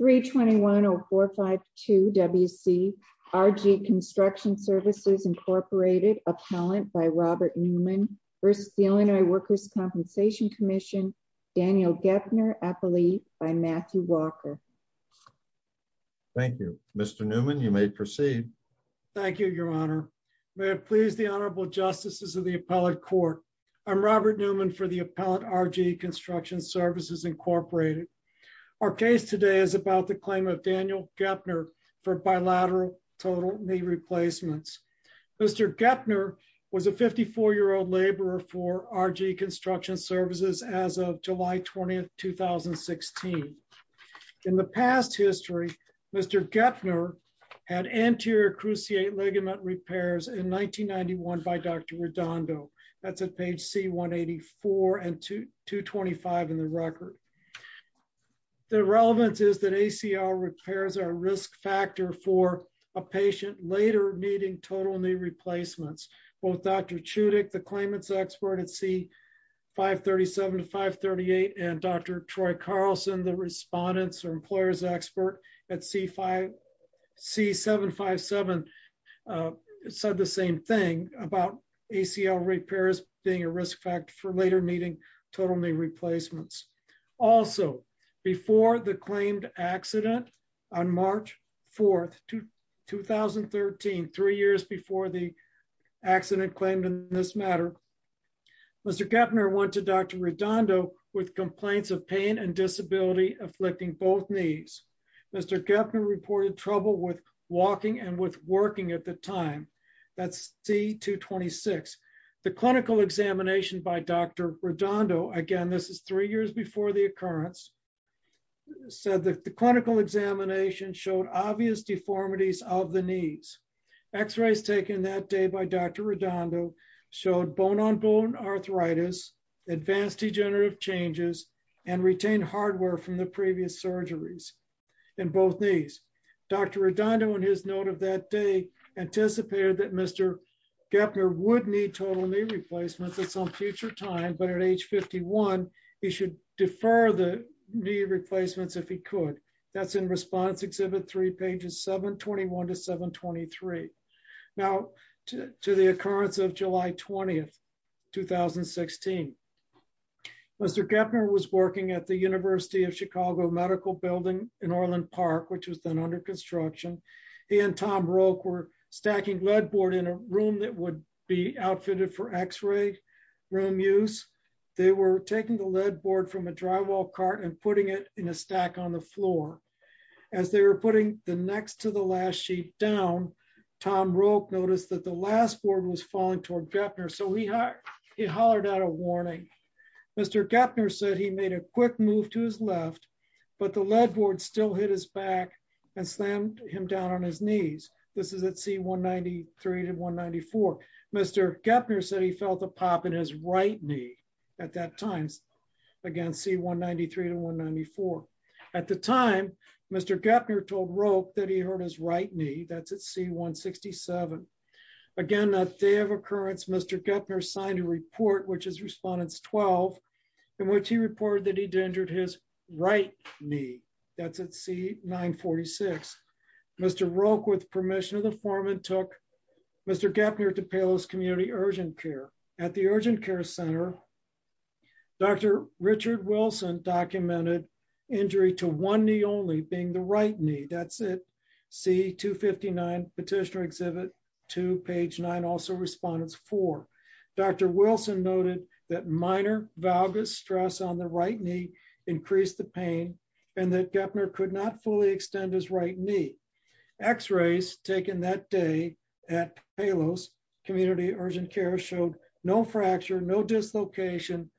321-0452 W.C. R.G. Construction Services, Inc. Appellant by Robert Newman v. The Illinois Workers' Compensation Commission, Daniel Geppner, Appellee by Matthew Walker. Thank you. Mr. Newman, you may proceed. Thank you, Your Honor. May it please the Honorable Justices of the Appellate Court, I'm Robert Newman for the Appellate R.G. Construction Services, Inc. Our case today is about the claim of Daniel Geppner for bilateral total knee replacements. Mr. Geppner was a 54-year-old laborer for R.G. Construction Services as of July 20, 2016. In the past history, Mr. Geppner had anterior cruciate ligament repairs in 1991 by Dr. Redondo. That's at page C-184 and 225 in the record. The relevance is that ACL repairs are a risk factor for a patient later needing total knee replacements. Both Dr. Chudik, the claimants' expert at C-537 to 538, and Dr. Troy Carlson, the respondents' or employers' expert at C-757 said the same thing about ACL repairs being a risk factor for later needing total knee replacements. Also, before the claimed accident on March 4, 2013, three years before the accident claimed in this matter, Mr. Geppner went to Dr. Chudik for a knee replacement. Dr. Chudik had a disability afflicting both knees. Mr. Geppner reported trouble with walking and with working at the time. That's C-226. The clinical examination by Dr. Redondo, again, this is three years before the occurrence, said that the clinical examination showed obvious deformities of the knees. X-rays taken that day by Dr. Redondo showed bone-on-bone arthritis, advanced degenerative changes, and retained hardware from the previous surgeries in both knees. Dr. Redondo, in his note of that day, anticipated that Mr. Geppner would need total knee replacements at some future time, but at age 51, he should defer the knee replacements if he could. That's in response exhibit 3, pages 721 to 723. Now, to the occurrence of July 20, 2016, Mr. Geppner was working at the University of Chicago Medical Building in Orland Park, which was then under construction. He and Tom Broke were stacking lead board in a room that would be outfitted for X-ray room use. They were taking the lead board from a drywall cart and putting it in a stack on the floor. As they were putting the next to the last sheet down, Tom Broke noticed that the last board was falling toward Geppner, so he hollered out a warning. Mr. Geppner said he made a quick move to his left, but the lead board still hit his back and slammed him down on his knees. This is at C193 to 194. Mr. Geppner said he felt a pop in his right knee at that time. Again, C193 to 194. At the time, Mr. Geppner told Broke that he hurt his right knee. That's at C167. Again, that day of occurrence, Mr. Geppner signed a report, which is Respondents 12, in which he reported that he'd injured his right knee. That's at C946. Mr. Broke, with permission of the foreman, took Mr. Geppner to Palos Community Urgent Care. At the Urgent Care Center, Dr. Richard Wilson documented injury to one knee only, being the right knee. That's at C259, Petitioner Exhibit 2, page 9, also Respondents 4. Dr. Wilson noted that minor valgus stress on the right knee increased the pain and that Geppner could not fracture, no dislocation.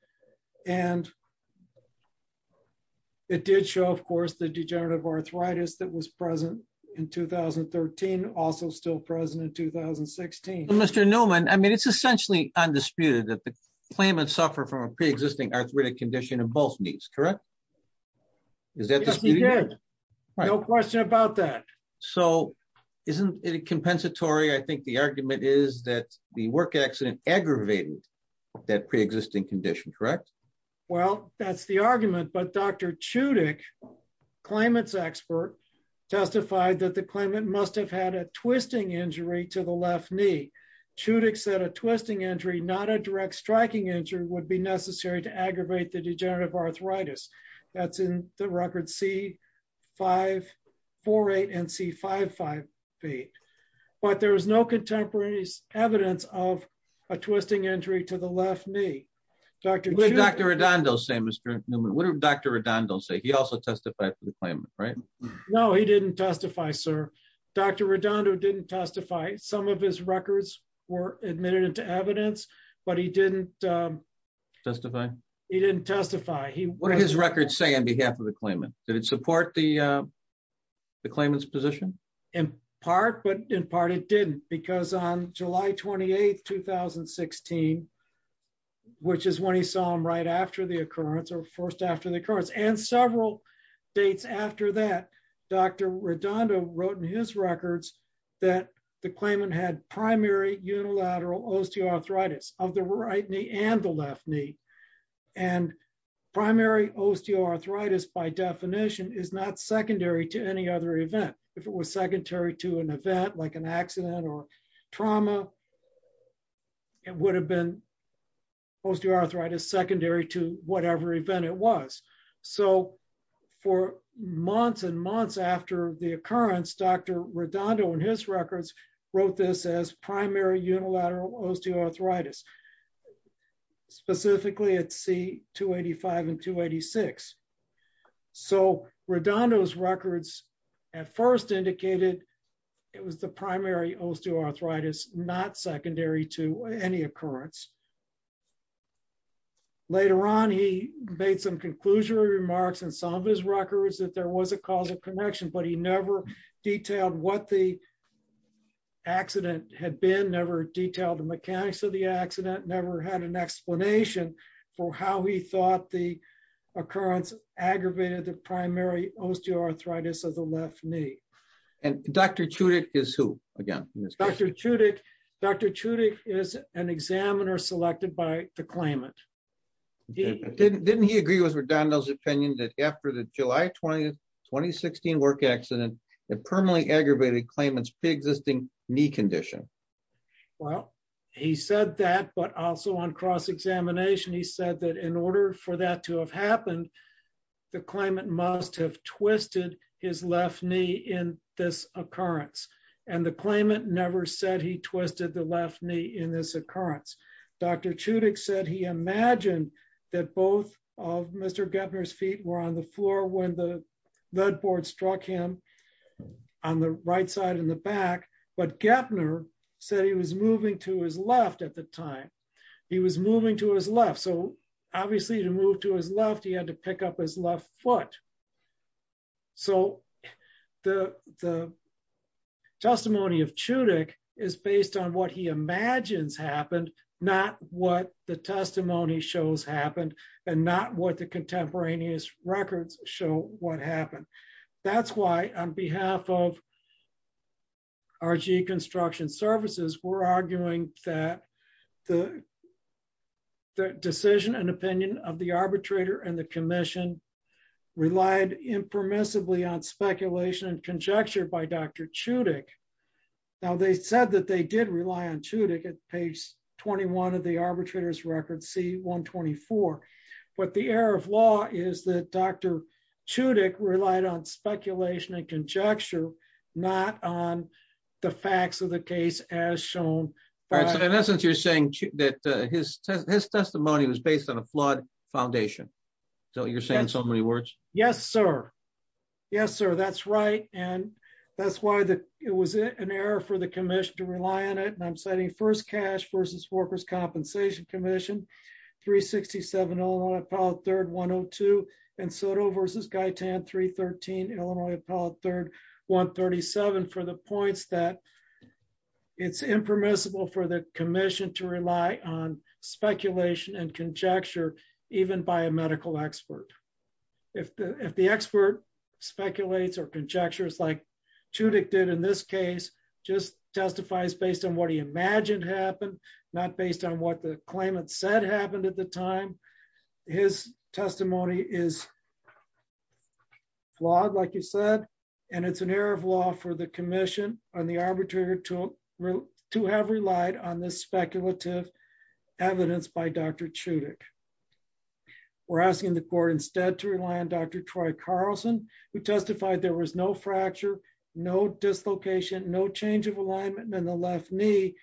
It did show, of course, the degenerative arthritis that was present in 2013, also still present in 2016. Mr. Newman, I mean, it's essentially undisputed that the claimant suffered from a pre-existing arthritic condition in both knees, correct? Yes, he did. No question about that. Isn't it compensatory? I think the argument is that the work accident aggravated that pre-existing condition, correct? Well, that's the argument, but Dr. Chudik, claimant's expert, testified that the claimant must have had a twisting injury to the left knee. Chudik said a twisting injury, not a direct striking injury, would be necessary to aggravate the degenerative arthritis. That's in the record C548 and C558. But there was no evidence of a twisting injury to the left knee. What did Dr. Redondo say, Mr. Newman? What did Dr. Redondo say? He also testified for the claimant, right? No, he didn't testify, sir. Dr. Redondo didn't testify. Some of his records were admitted into evidence, but he didn't testify. He didn't testify. What did his records say on behalf of the claimant? Did it support the claimant's position? In part, but in part it didn't, because on July 28th, 2016, which is when he saw him right after the occurrence, or first after the occurrence, and several dates after that, Dr. Redondo wrote in his records that the claimant had primary unilateral osteoarthritis of the right knee and the left knee. And primary osteoarthritis, by definition, is not secondary to any other event. If it was secondary to an event like an accident or trauma, it would have been osteoarthritis secondary to whatever event it was. So for months and months after the occurrence, Dr. Redondo, in his records, wrote this as primary unilateral osteoarthritis, specifically at C285 and 286. So Redondo's records at first indicated it was the primary osteoarthritis, not secondary to any occurrence. Later on, he made some conclusionary remarks in some of his records that there was a cause of connection, but he never detailed what the accident had been, never detailed the mechanics of the accident, never had an explanation for how he thought the aggravated the primary osteoarthritis of the left knee. And Dr. Chudik is who, again? Dr. Chudik is an examiner selected by the claimant. Didn't he agree with Redondo's opinion that after the July 20, 2016 work accident, it permanently aggravated claimant's pre-existing knee condition? Well, he said that, but also on cross-examination, he said that in order for that to have happened, the claimant must have twisted his left knee in this occurrence. And the claimant never said he twisted the left knee in this occurrence. Dr. Chudik said he imagined that both of Mr. Gepner's feet were on the floor when the leadboard struck him on the right side and the back, but Gepner said he was moving to his left at the time. He was moving to his left. So, obviously, to move to his left, he had to pick up his left foot. So, the testimony of Chudik is based on what he imagines happened, not what the testimony shows happened, and not what the contemporaneous records show what happened. That's why on behalf of RG Construction Services, we're arguing that the decision and opinion of the arbitrator and the commission relied impermissibly on speculation and conjecture by Dr. Chudik. Now, they said that they did rely on Chudik at page 21 of the arbitrator's record, 124. But the error of law is that Dr. Chudik relied on speculation and conjecture, not on the facts of the case as shown. In essence, you're saying that his testimony was based on a flawed foundation. So, you're saying so many words? Yes, sir. Yes, sir. That's right. And that's why it was an error for the commission to rely on it. And I'm citing First Compensation Commission, 367 Illinois Appellate 3rd 102, and Soto v. Guy Tan 313 Illinois Appellate 3rd 137 for the points that it's impermissible for the commission to rely on speculation and conjecture, even by a medical expert. If the expert speculates or conjectures like Chudik did in this case, just testifies based on what he imagined happened, not based on what the claimant said happened at the time. His testimony is flawed, like you said, and it's an error of law for the commission on the arbitrator to have relied on this speculative evidence by Dr. Chudik. We're asking the court instead to rely on Dr. Troy Carlson, who testified there was no fracture, no dislocation, no change of alignment in the left knee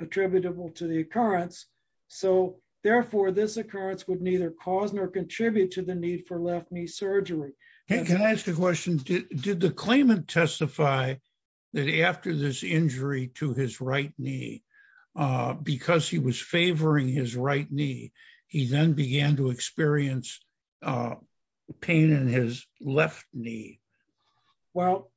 attributable to the occurrence. So, therefore, this occurrence would neither cause nor contribute to the need for left knee surgery. Hey, can I ask a question? Did the claimant testify that after this injury to his right knee, because he was favoring his right knee, he then began to experience pain in his left knee? Well,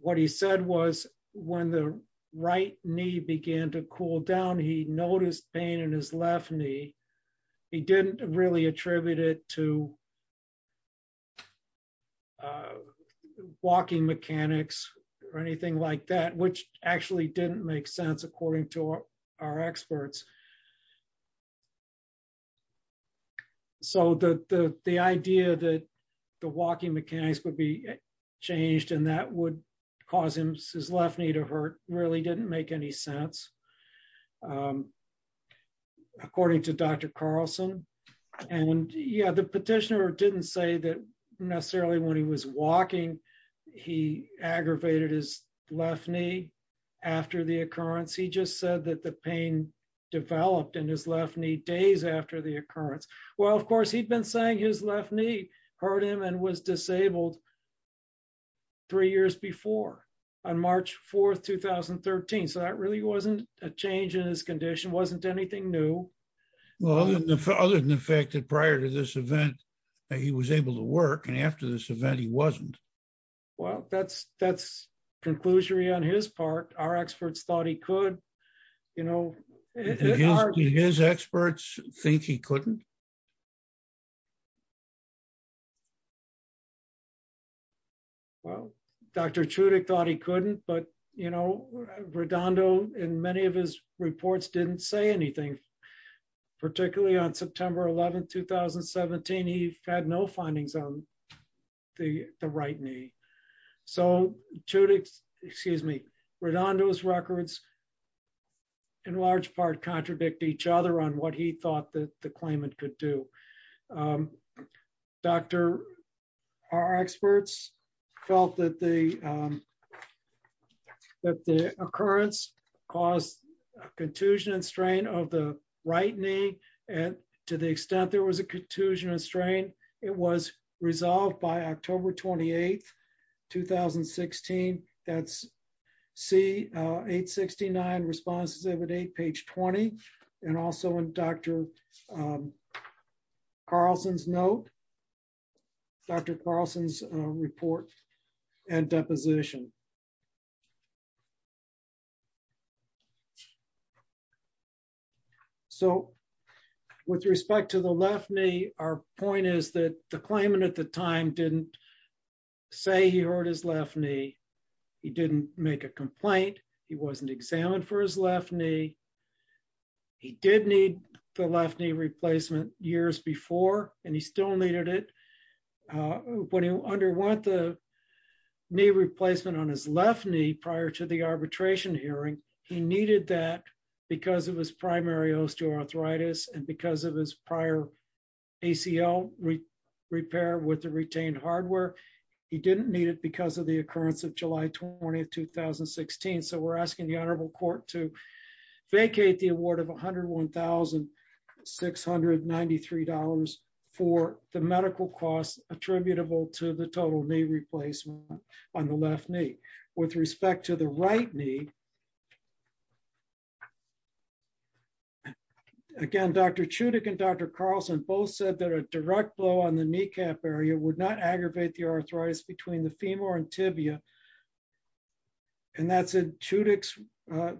what he said was when the right knee began to cool down, he noticed pain in his left knee. He didn't really attribute it to walking mechanics or anything like that, which actually didn't make sense according to our changed, and that would cause his left knee to hurt really didn't make any sense. According to Dr. Carlson, and yeah, the petitioner didn't say that necessarily when he was walking, he aggravated his left knee after the occurrence. He just said that the pain developed in his left knee days after the occurrence. Well, of course, he'd been saying his left knee hurt him and was disabled three years before on March 4, 2013. So, that really wasn't a change in his condition, wasn't anything new. Well, other than the fact that prior to this event, he was able to work, and after this event, he wasn't. Well, that's conclusory on his part. Our experts thought he could, you know. Do his experts think he couldn't? Well, Dr. Chudik thought he couldn't, but you know, Redondo in many of his reports didn't say anything. Particularly on September 11, 2017, he had no findings on the right knee. So, Chudik's, Redondo's records in large part contradict each other on what he thought that the claimant could do. Our experts felt that the occurrence caused a contusion and strain of the right knee, and to the extent there was a contusion and strain, it was resolved by October 28, 2016. That's C-869, response exhibit 8, page 20, and also in Dr. Carlson's note, Dr. Carlson's report and deposition. So, with respect to the left knee, our point is that the claimant at the time didn't say he hurt his left knee. He didn't make a complaint. He wasn't examined for his left knee. He did need the left knee replacement years before, and he still needed it. When he underwent the knee replacement on his left knee prior to the arbitration hearing, he needed that because of his primary osteoarthritis and because of his prior ACL repair with the retained hardware. He didn't need it because of the occurrence of July 20, 2016. So, we're asking the honorable court to vacate the award of $101,693 for the medical costs attributable to the total knee replacement on the left knee. With respect to the right knee, again, Dr. Chudik and Dr. Carlson both said that a direct blow on the kneecap area would not aggravate the arthritis between the femur and tibia, and that's in Chudik's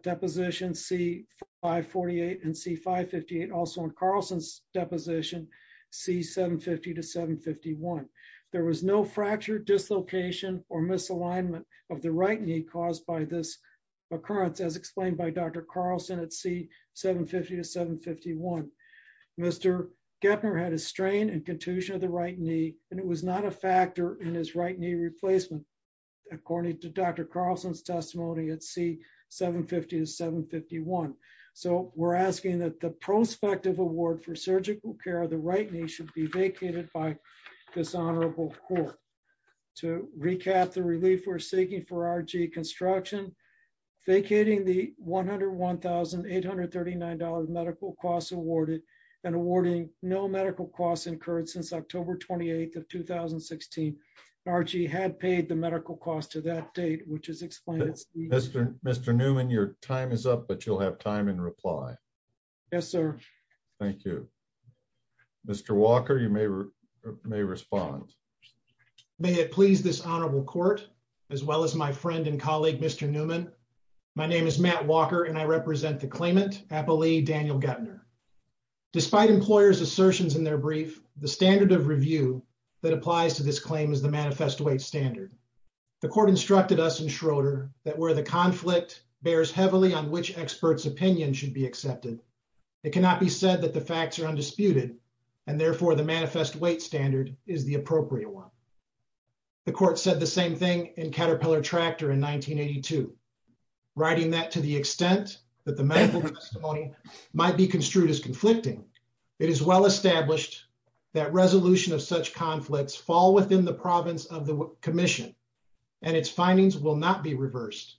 deposition C-548 and C-558, also in Carlson's deposition C-750 to C-751. There was no fracture, dislocation, or misalignment of the right knee caused by this occurrence, as explained by Dr. Carlson at C-750 to C-751. Mr. Geppner had a strain and contusion of the right knee, and it was not a factor in his right knee replacement, according to Dr. Carlson's testimony at C-750 to C-751. So, we're asking that the prospective award for surgical care of the right knee should be vacated by this honorable court. To recap the relief we're seeking for RG construction, vacating the $101,839 medical costs awarded and awarding no medical costs incurred since October 28th of 2016. RG had paid the medical cost to that date, which is explained. Mr. Newman, your time is up, but you'll have time in reply. Yes, sir. Thank you. Mr. Walker, you may respond. May it please this honorable court, as well as my friend and colleague, Mr. Newman. My name is Matt Walker, and I represent the claimant, Applee Daniel Geppner. Despite employers' assertions in their brief, the standard of review that applies to this claim is the manifesto-weight standard. The court instructed us in Schroeder that where the conflict bears heavily on which expert's opinion should be accepted, it cannot be said that the facts are undisputed, and therefore, the manifest weight standard is the appropriate one. The court said the same thing in Caterpillar Tractor in 1982. Writing that to the extent that the medical testimony might be construed as conflicting, it is well established that resolution of such conflicts fall within the province of the mission, and its findings will not be reversed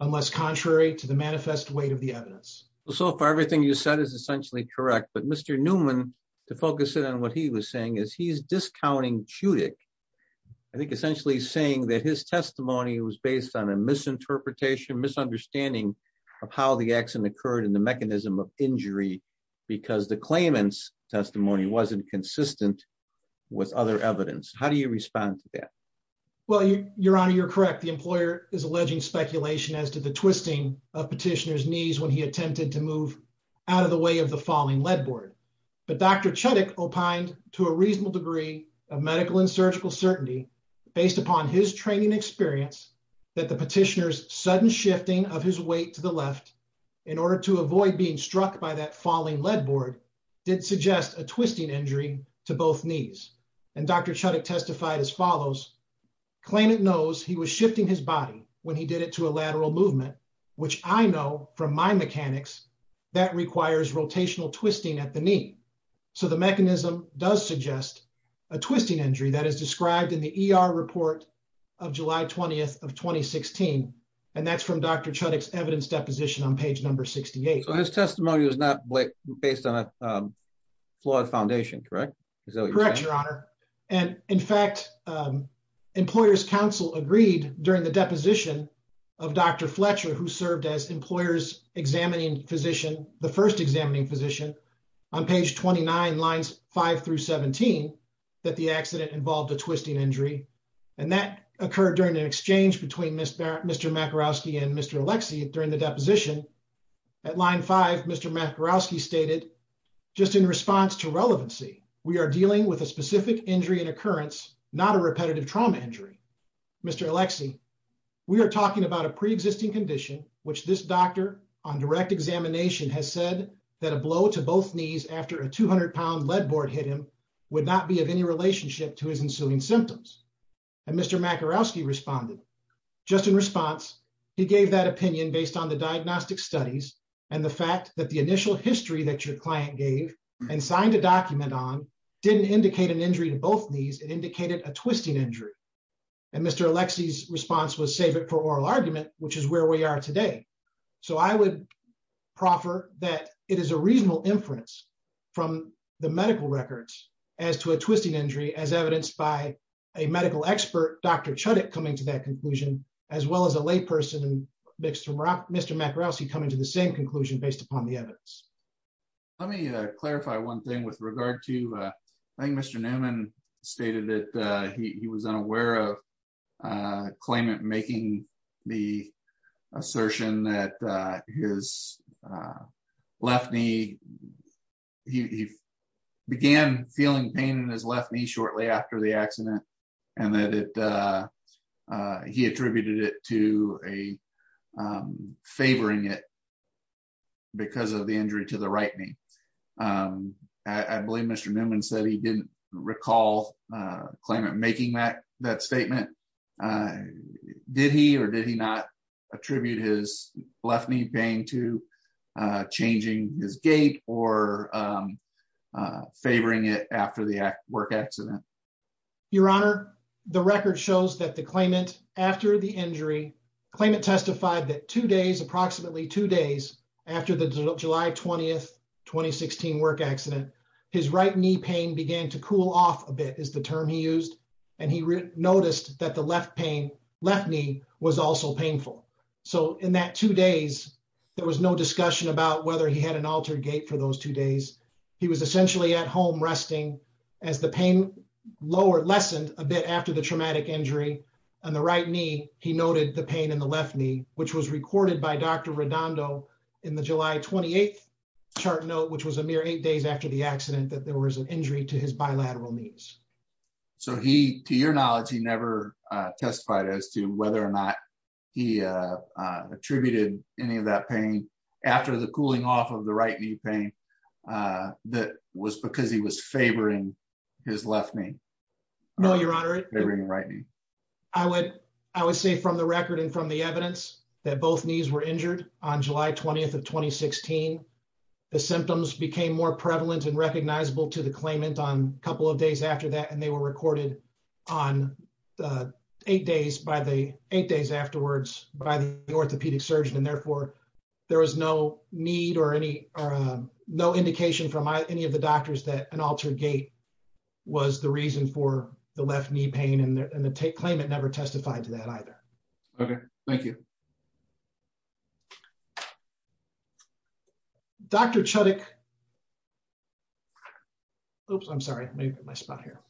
unless contrary to the manifest weight of the evidence. So far, everything you said is essentially correct, but Mr. Newman, to focus in on what he was saying, is he's discounting Chudik. I think essentially saying that his testimony was based on a misinterpretation, misunderstanding of how the accident occurred and the mechanism of injury because the claimant's testimony wasn't consistent with other evidence. How do you respond to that? Well, your honor, you're correct. The employer is alleging speculation as to the twisting of petitioner's knees when he attempted to move out of the way of the falling lead board, but Dr. Chudik opined to a reasonable degree of medical and surgical certainty based upon his training experience that the petitioner's sudden shifting of his weight to the left in order to avoid being struck by that falling lead board did suggest a twisting injury to both knees. And Dr. Chudik testified as follows, claimant knows he was shifting his body when he did it to a lateral movement, which I know from my mechanics that requires rotational twisting at the knee. So the mechanism does suggest a twisting injury that is described in the ER report of July 20th of 2016, and that's from Dr. Chudik's evidence deposition on page number 68. So his your honor. And in fact, um, employers council agreed during the deposition of Dr. Fletcher, who served as employers examining physician, the first examining physician on page 29 lines five through 17, that the accident involved a twisting injury. And that occurred during an exchange between Mr. Mr. Makarowski and Mr. Alexi during the deposition at line five, Mr. Makarowski stated just in response to relevancy, we are dealing with a specific injury and occurrence, not a repetitive trauma injury. Mr. Alexi, we are talking about a preexisting condition, which this doctor on direct examination has said that a blow to both knees after a 200 pound lead board hit him would not be of any relationship to his ensuing symptoms. And Mr. Makarowski responded just in response, he gave that opinion based on the diagnostic studies and the fact that the initial history that your client gave and signed a document on didn't indicate an injury to both knees, it indicated a twisting injury. And Mr. Alexi's response was save it for oral argument, which is where we are today. So I would proffer that it is a reasonable inference from the medical records as to a twisting injury as evidenced by a medical expert, Dr. Chudik coming to that conclusion, as well as a lay person and Mr. Mr. Makarowski coming to the same conclusion based on the evidence. Let me clarify one thing with regard to I think Mr. Newman stated that he was unaware of claimant making the assertion that his left knee, he began feeling pain in his left knee shortly after the accident, and that he attributed it to a favoring it because of the injury to the right knee. I believe Mr. Newman said he didn't recall claimant making that that statement. Did he or did he not attribute his left knee pain to changing his gait or favoring it after the work accident? Your Honor, the record shows that the claimant after the injury, claimant testified that two days, approximately two days after the July 20th, 2016 work accident, his right knee pain began to cool off a bit is the term he used. And he noticed that the left knee was also painful. So in that two days, there was no two days. He was essentially at home resting as the pain lower lessened a bit after the traumatic injury on the right knee. He noted the pain in the left knee, which was recorded by Dr. Redondo in the July 28th chart note, which was a mere eight days after the accident, that there was an injury to his bilateral knees. So he, to your knowledge, he never testified as to whether or not he attributed any of that pain after the cooling off of the right knee pain. That was because he was favoring his left knee. No, Your Honor. Right. I would, I would say from the record and from the evidence that both knees were injured on July 20th of 2016. The symptoms became more prevalent and recognizable to the claimant on a couple of days after that, and they were recorded on the eight days by the eight days afterwards by the orthopedic surgeon. And therefore there was no need or any, no indication from any of the doctors that an altered gait was the reason for the left knee pain and the claimant never testified to that either. Okay. Thank you. Okay. Dr. Chudik. Oops, I'm sorry. Let me get my spot here.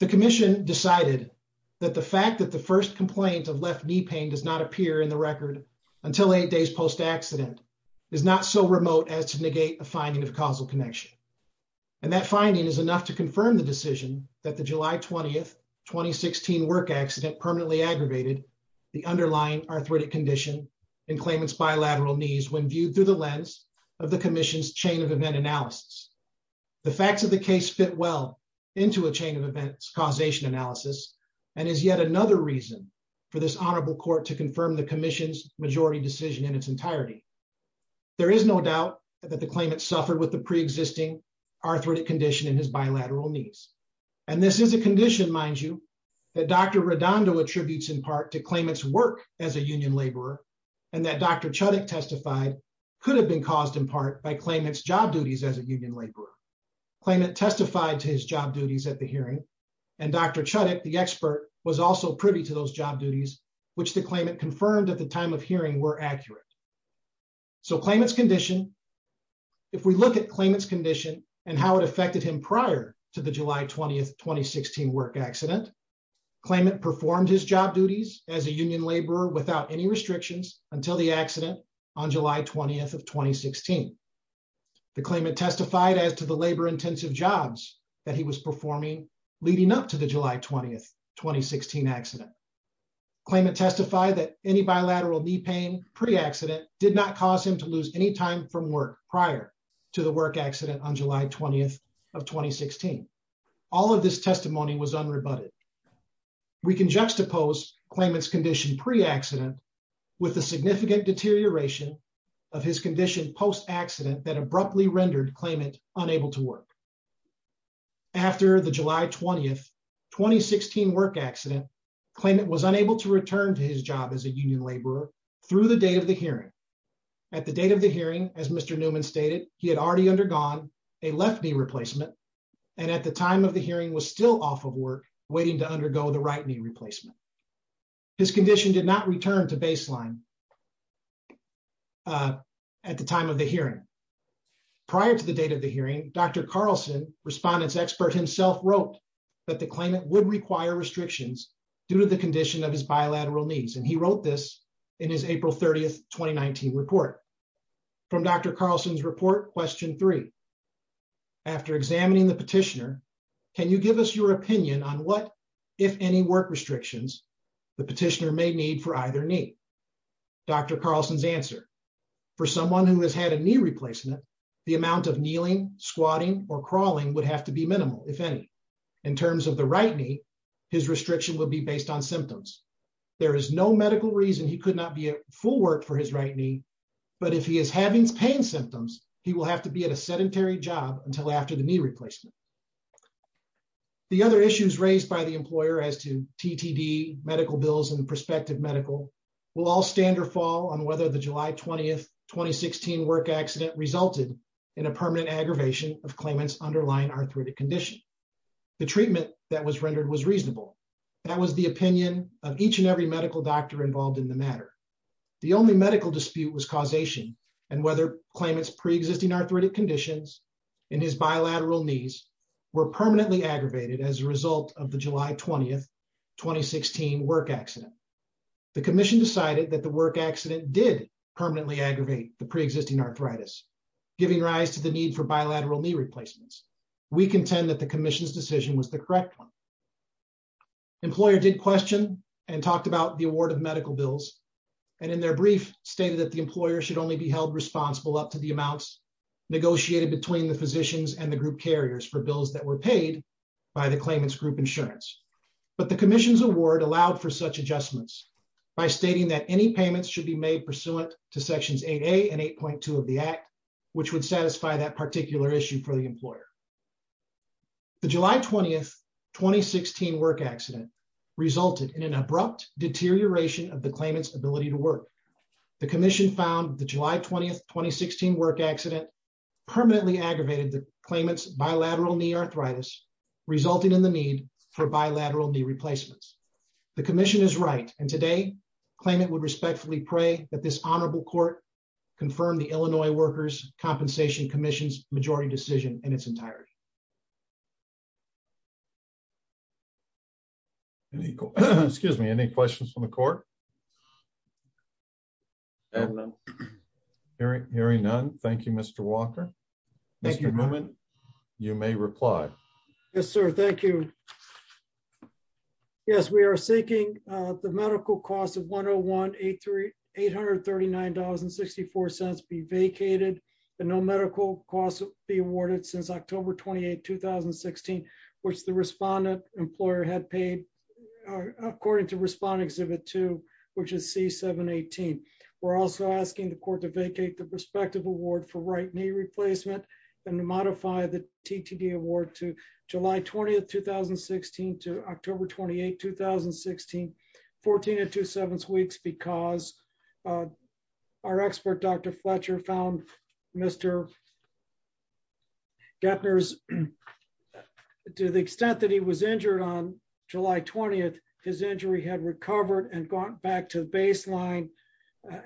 The commission decided that the fact that the first complaint of left knee pain does not appear in the record until eight days post accident is not so remote as to negate a finding of causal connection. And that finding is enough to confirm the decision that the July 20th, 2016 work accident permanently aggravated the underlying arthritic condition in claimant's bilateral knees. When viewed through the lens of the commission's chain of event analysis, the facts of the case fit well into a chain of events, causation analysis, and is yet another reason for this honorable court to confirm the commission's majority decision in its entirety. There is no doubt that the claimant suffered with the preexisting arthritic condition in his bilateral knees. And this is a condition, mind you, that Dr. Redondo attributes in part to claimant's work as a union laborer, and that Dr. Chudik testified could have been caused in part by claimant's job duties as a union laborer. Claimant testified to his job duties at the hearing, and Dr. Chudik, the expert, was also privy to those job duties, which the claimant confirmed at the time of hearing were accurate. So claimant's condition, if we look at claimant's condition and how it affected him prior to the July 20th, 2016 work accident, claimant performed his job duties as a union laborer without any restrictions until the accident on July 20th of 2016. The claimant testified as to the labor-intensive jobs that he was performing leading up to the July 20th, 2016 accident. Claimant testified that any bilateral knee pain pre-accident did not cause him to lose any time from work prior to the work accident on July 20th of 2016. All of this testimony was unrebutted. We can juxtapose claimant's condition pre-accident with the significant deterioration of his condition post-accident that abruptly rendered claimant unable to work. After the July 20th, 2016 work accident, claimant was unable to return to his job as a union laborer through the date of the hearing. At the date of the hearing, as Mr. Newman stated, he had already undergone a left knee replacement and at the time of the hearing was still off of work waiting to undergo the right knee replacement. His condition did not return to baseline at the time of the hearing. Prior to the date of the hearing, Dr. Carlson, respondent's expert himself, wrote that the claimant would require restrictions due to the in his April 30th, 2019 report. From Dr. Carlson's report, question three. After examining the petitioner, can you give us your opinion on what, if any, work restrictions the petitioner may need for either knee? Dr. Carlson's answer. For someone who has had a knee replacement, the amount of kneeling, squatting, or crawling would have to be minimal, if any. In terms of the right knee, his restriction would be based on symptoms. There is no medical reason he could not be at full work for his right knee, but if he is having pain symptoms, he will have to be at a sedentary job until after the knee replacement. The other issues raised by the employer as to TTD, medical bills, and prospective medical will all stand or fall on whether the July 20th, 2016 work accident resulted in a permanent aggravation of claimant's underlying arthritic condition. The treatment that was rendered was reasonable. That was the opinion of each and every doctor involved in the matter. The only medical dispute was causation and whether claimant's pre-existing arthritic conditions in his bilateral knees were permanently aggravated as a result of the July 20th, 2016 work accident. The commission decided that the work accident did permanently aggravate the pre-existing arthritis, giving rise to the need for bilateral knee replacements. We contend that the commission's decision was the correct one. Employer did question and talked about the award of medical bills and in their brief stated that the employer should only be held responsible up to the amounts negotiated between the physicians and the group carriers for bills that were paid by the claimant's group insurance. But the commission's award allowed for such adjustments by stating that any payments should be made pursuant to sections 8a and 8.2 of the act, which would satisfy that particular issue for the employer. The July 20th, 2016 work accident resulted in an abrupt deterioration of the claimant's ability to work. The commission found the July 20th, 2016 work accident permanently aggravated the claimant's bilateral knee arthritis resulting in the need for bilateral knee replacements. The commission is right and today claimant would respectfully pray that this honorable court confirm the Illinois Workers Compensation Commission's majority decision in its entirety. Excuse me. Any questions from the court? Hearing none. Thank you, Mr. Walker. Mr. Newman, you may reply. Yes, sir. Thank you. Yes, we are seeking the medical cost of $101,839.64 be vacated and no medical costs be awarded since October 28, 2016, which the respondent employer had paid according to Respondent Exhibit 2, which is C-718. We're also asking the court to vacate the prospective award for right knee replacement and to modify the TTD award to July 20th, 2016 to October 28, 2016, 14 and two sevenths weeks because our expert Dr. Fletcher found Mr. Gepner's, to the extent that he was injured on July 20th, his injury had recovered and gone back to the baseline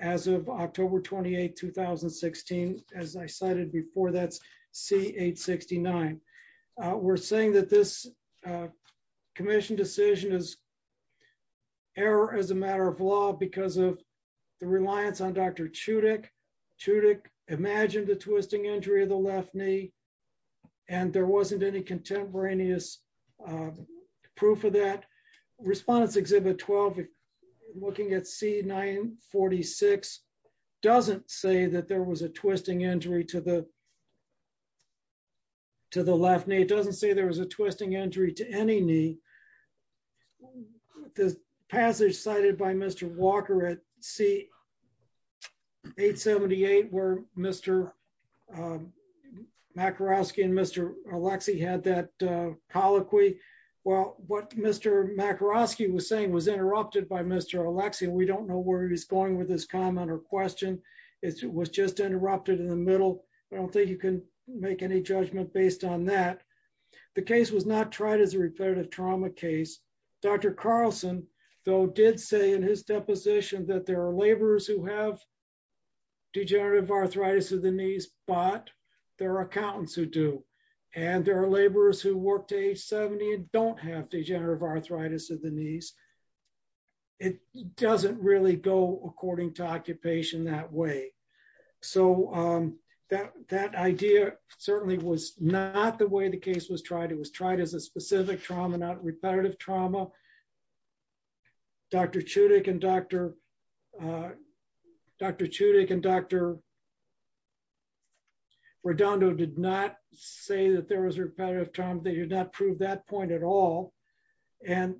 as of October 28, 2016, as I cited before, that's C-869. We're saying that this commission decision is error as a matter of law because of the reliance on Dr. Chudik. Chudik imagined the twisting injury of the left knee and there wasn't any contemporaneous proof of that. Respondents Exhibit 12, looking at C-946, doesn't say that there was a twisting injury to any knee. The passage cited by Mr. Walker at C-878 where Mr. Makarovsky and Mr. Alexey had that colloquy. Well, what Mr. Makarovsky was saying was interrupted by Mr. Alexey. We don't know where he's going with this comment or question. It was just interrupted in the middle. I don't think you can make any judgment based on that. The case was not tried as a repetitive trauma case. Dr. Carlson, though, did say in his deposition that there are laborers who have degenerative arthritis of the knees, but there are accountants who do. And there are laborers who work to age 70 and don't have degenerative arthritis of the knees. It doesn't really go according to occupation that way. That idea certainly was not the way the case was tried. It was tried as a specific trauma, not repetitive trauma. Dr. Chudik and Dr. Redondo did not say that there was repetitive trauma. They did not prove that point at all. And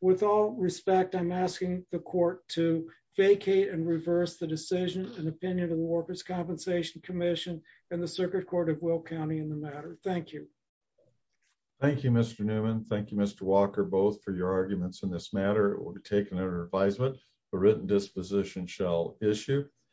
with all respect, I'm asking the court to vacate and reverse the decision and opinion of the Workers' Compensation Commission and the Circuit Court of Will County in the matter. Thank you. Thank you, Mr. Newman. Thank you, Mr. Walker, both for your arguments in this matter. It will be taken under advisement. A written disposition shall issue.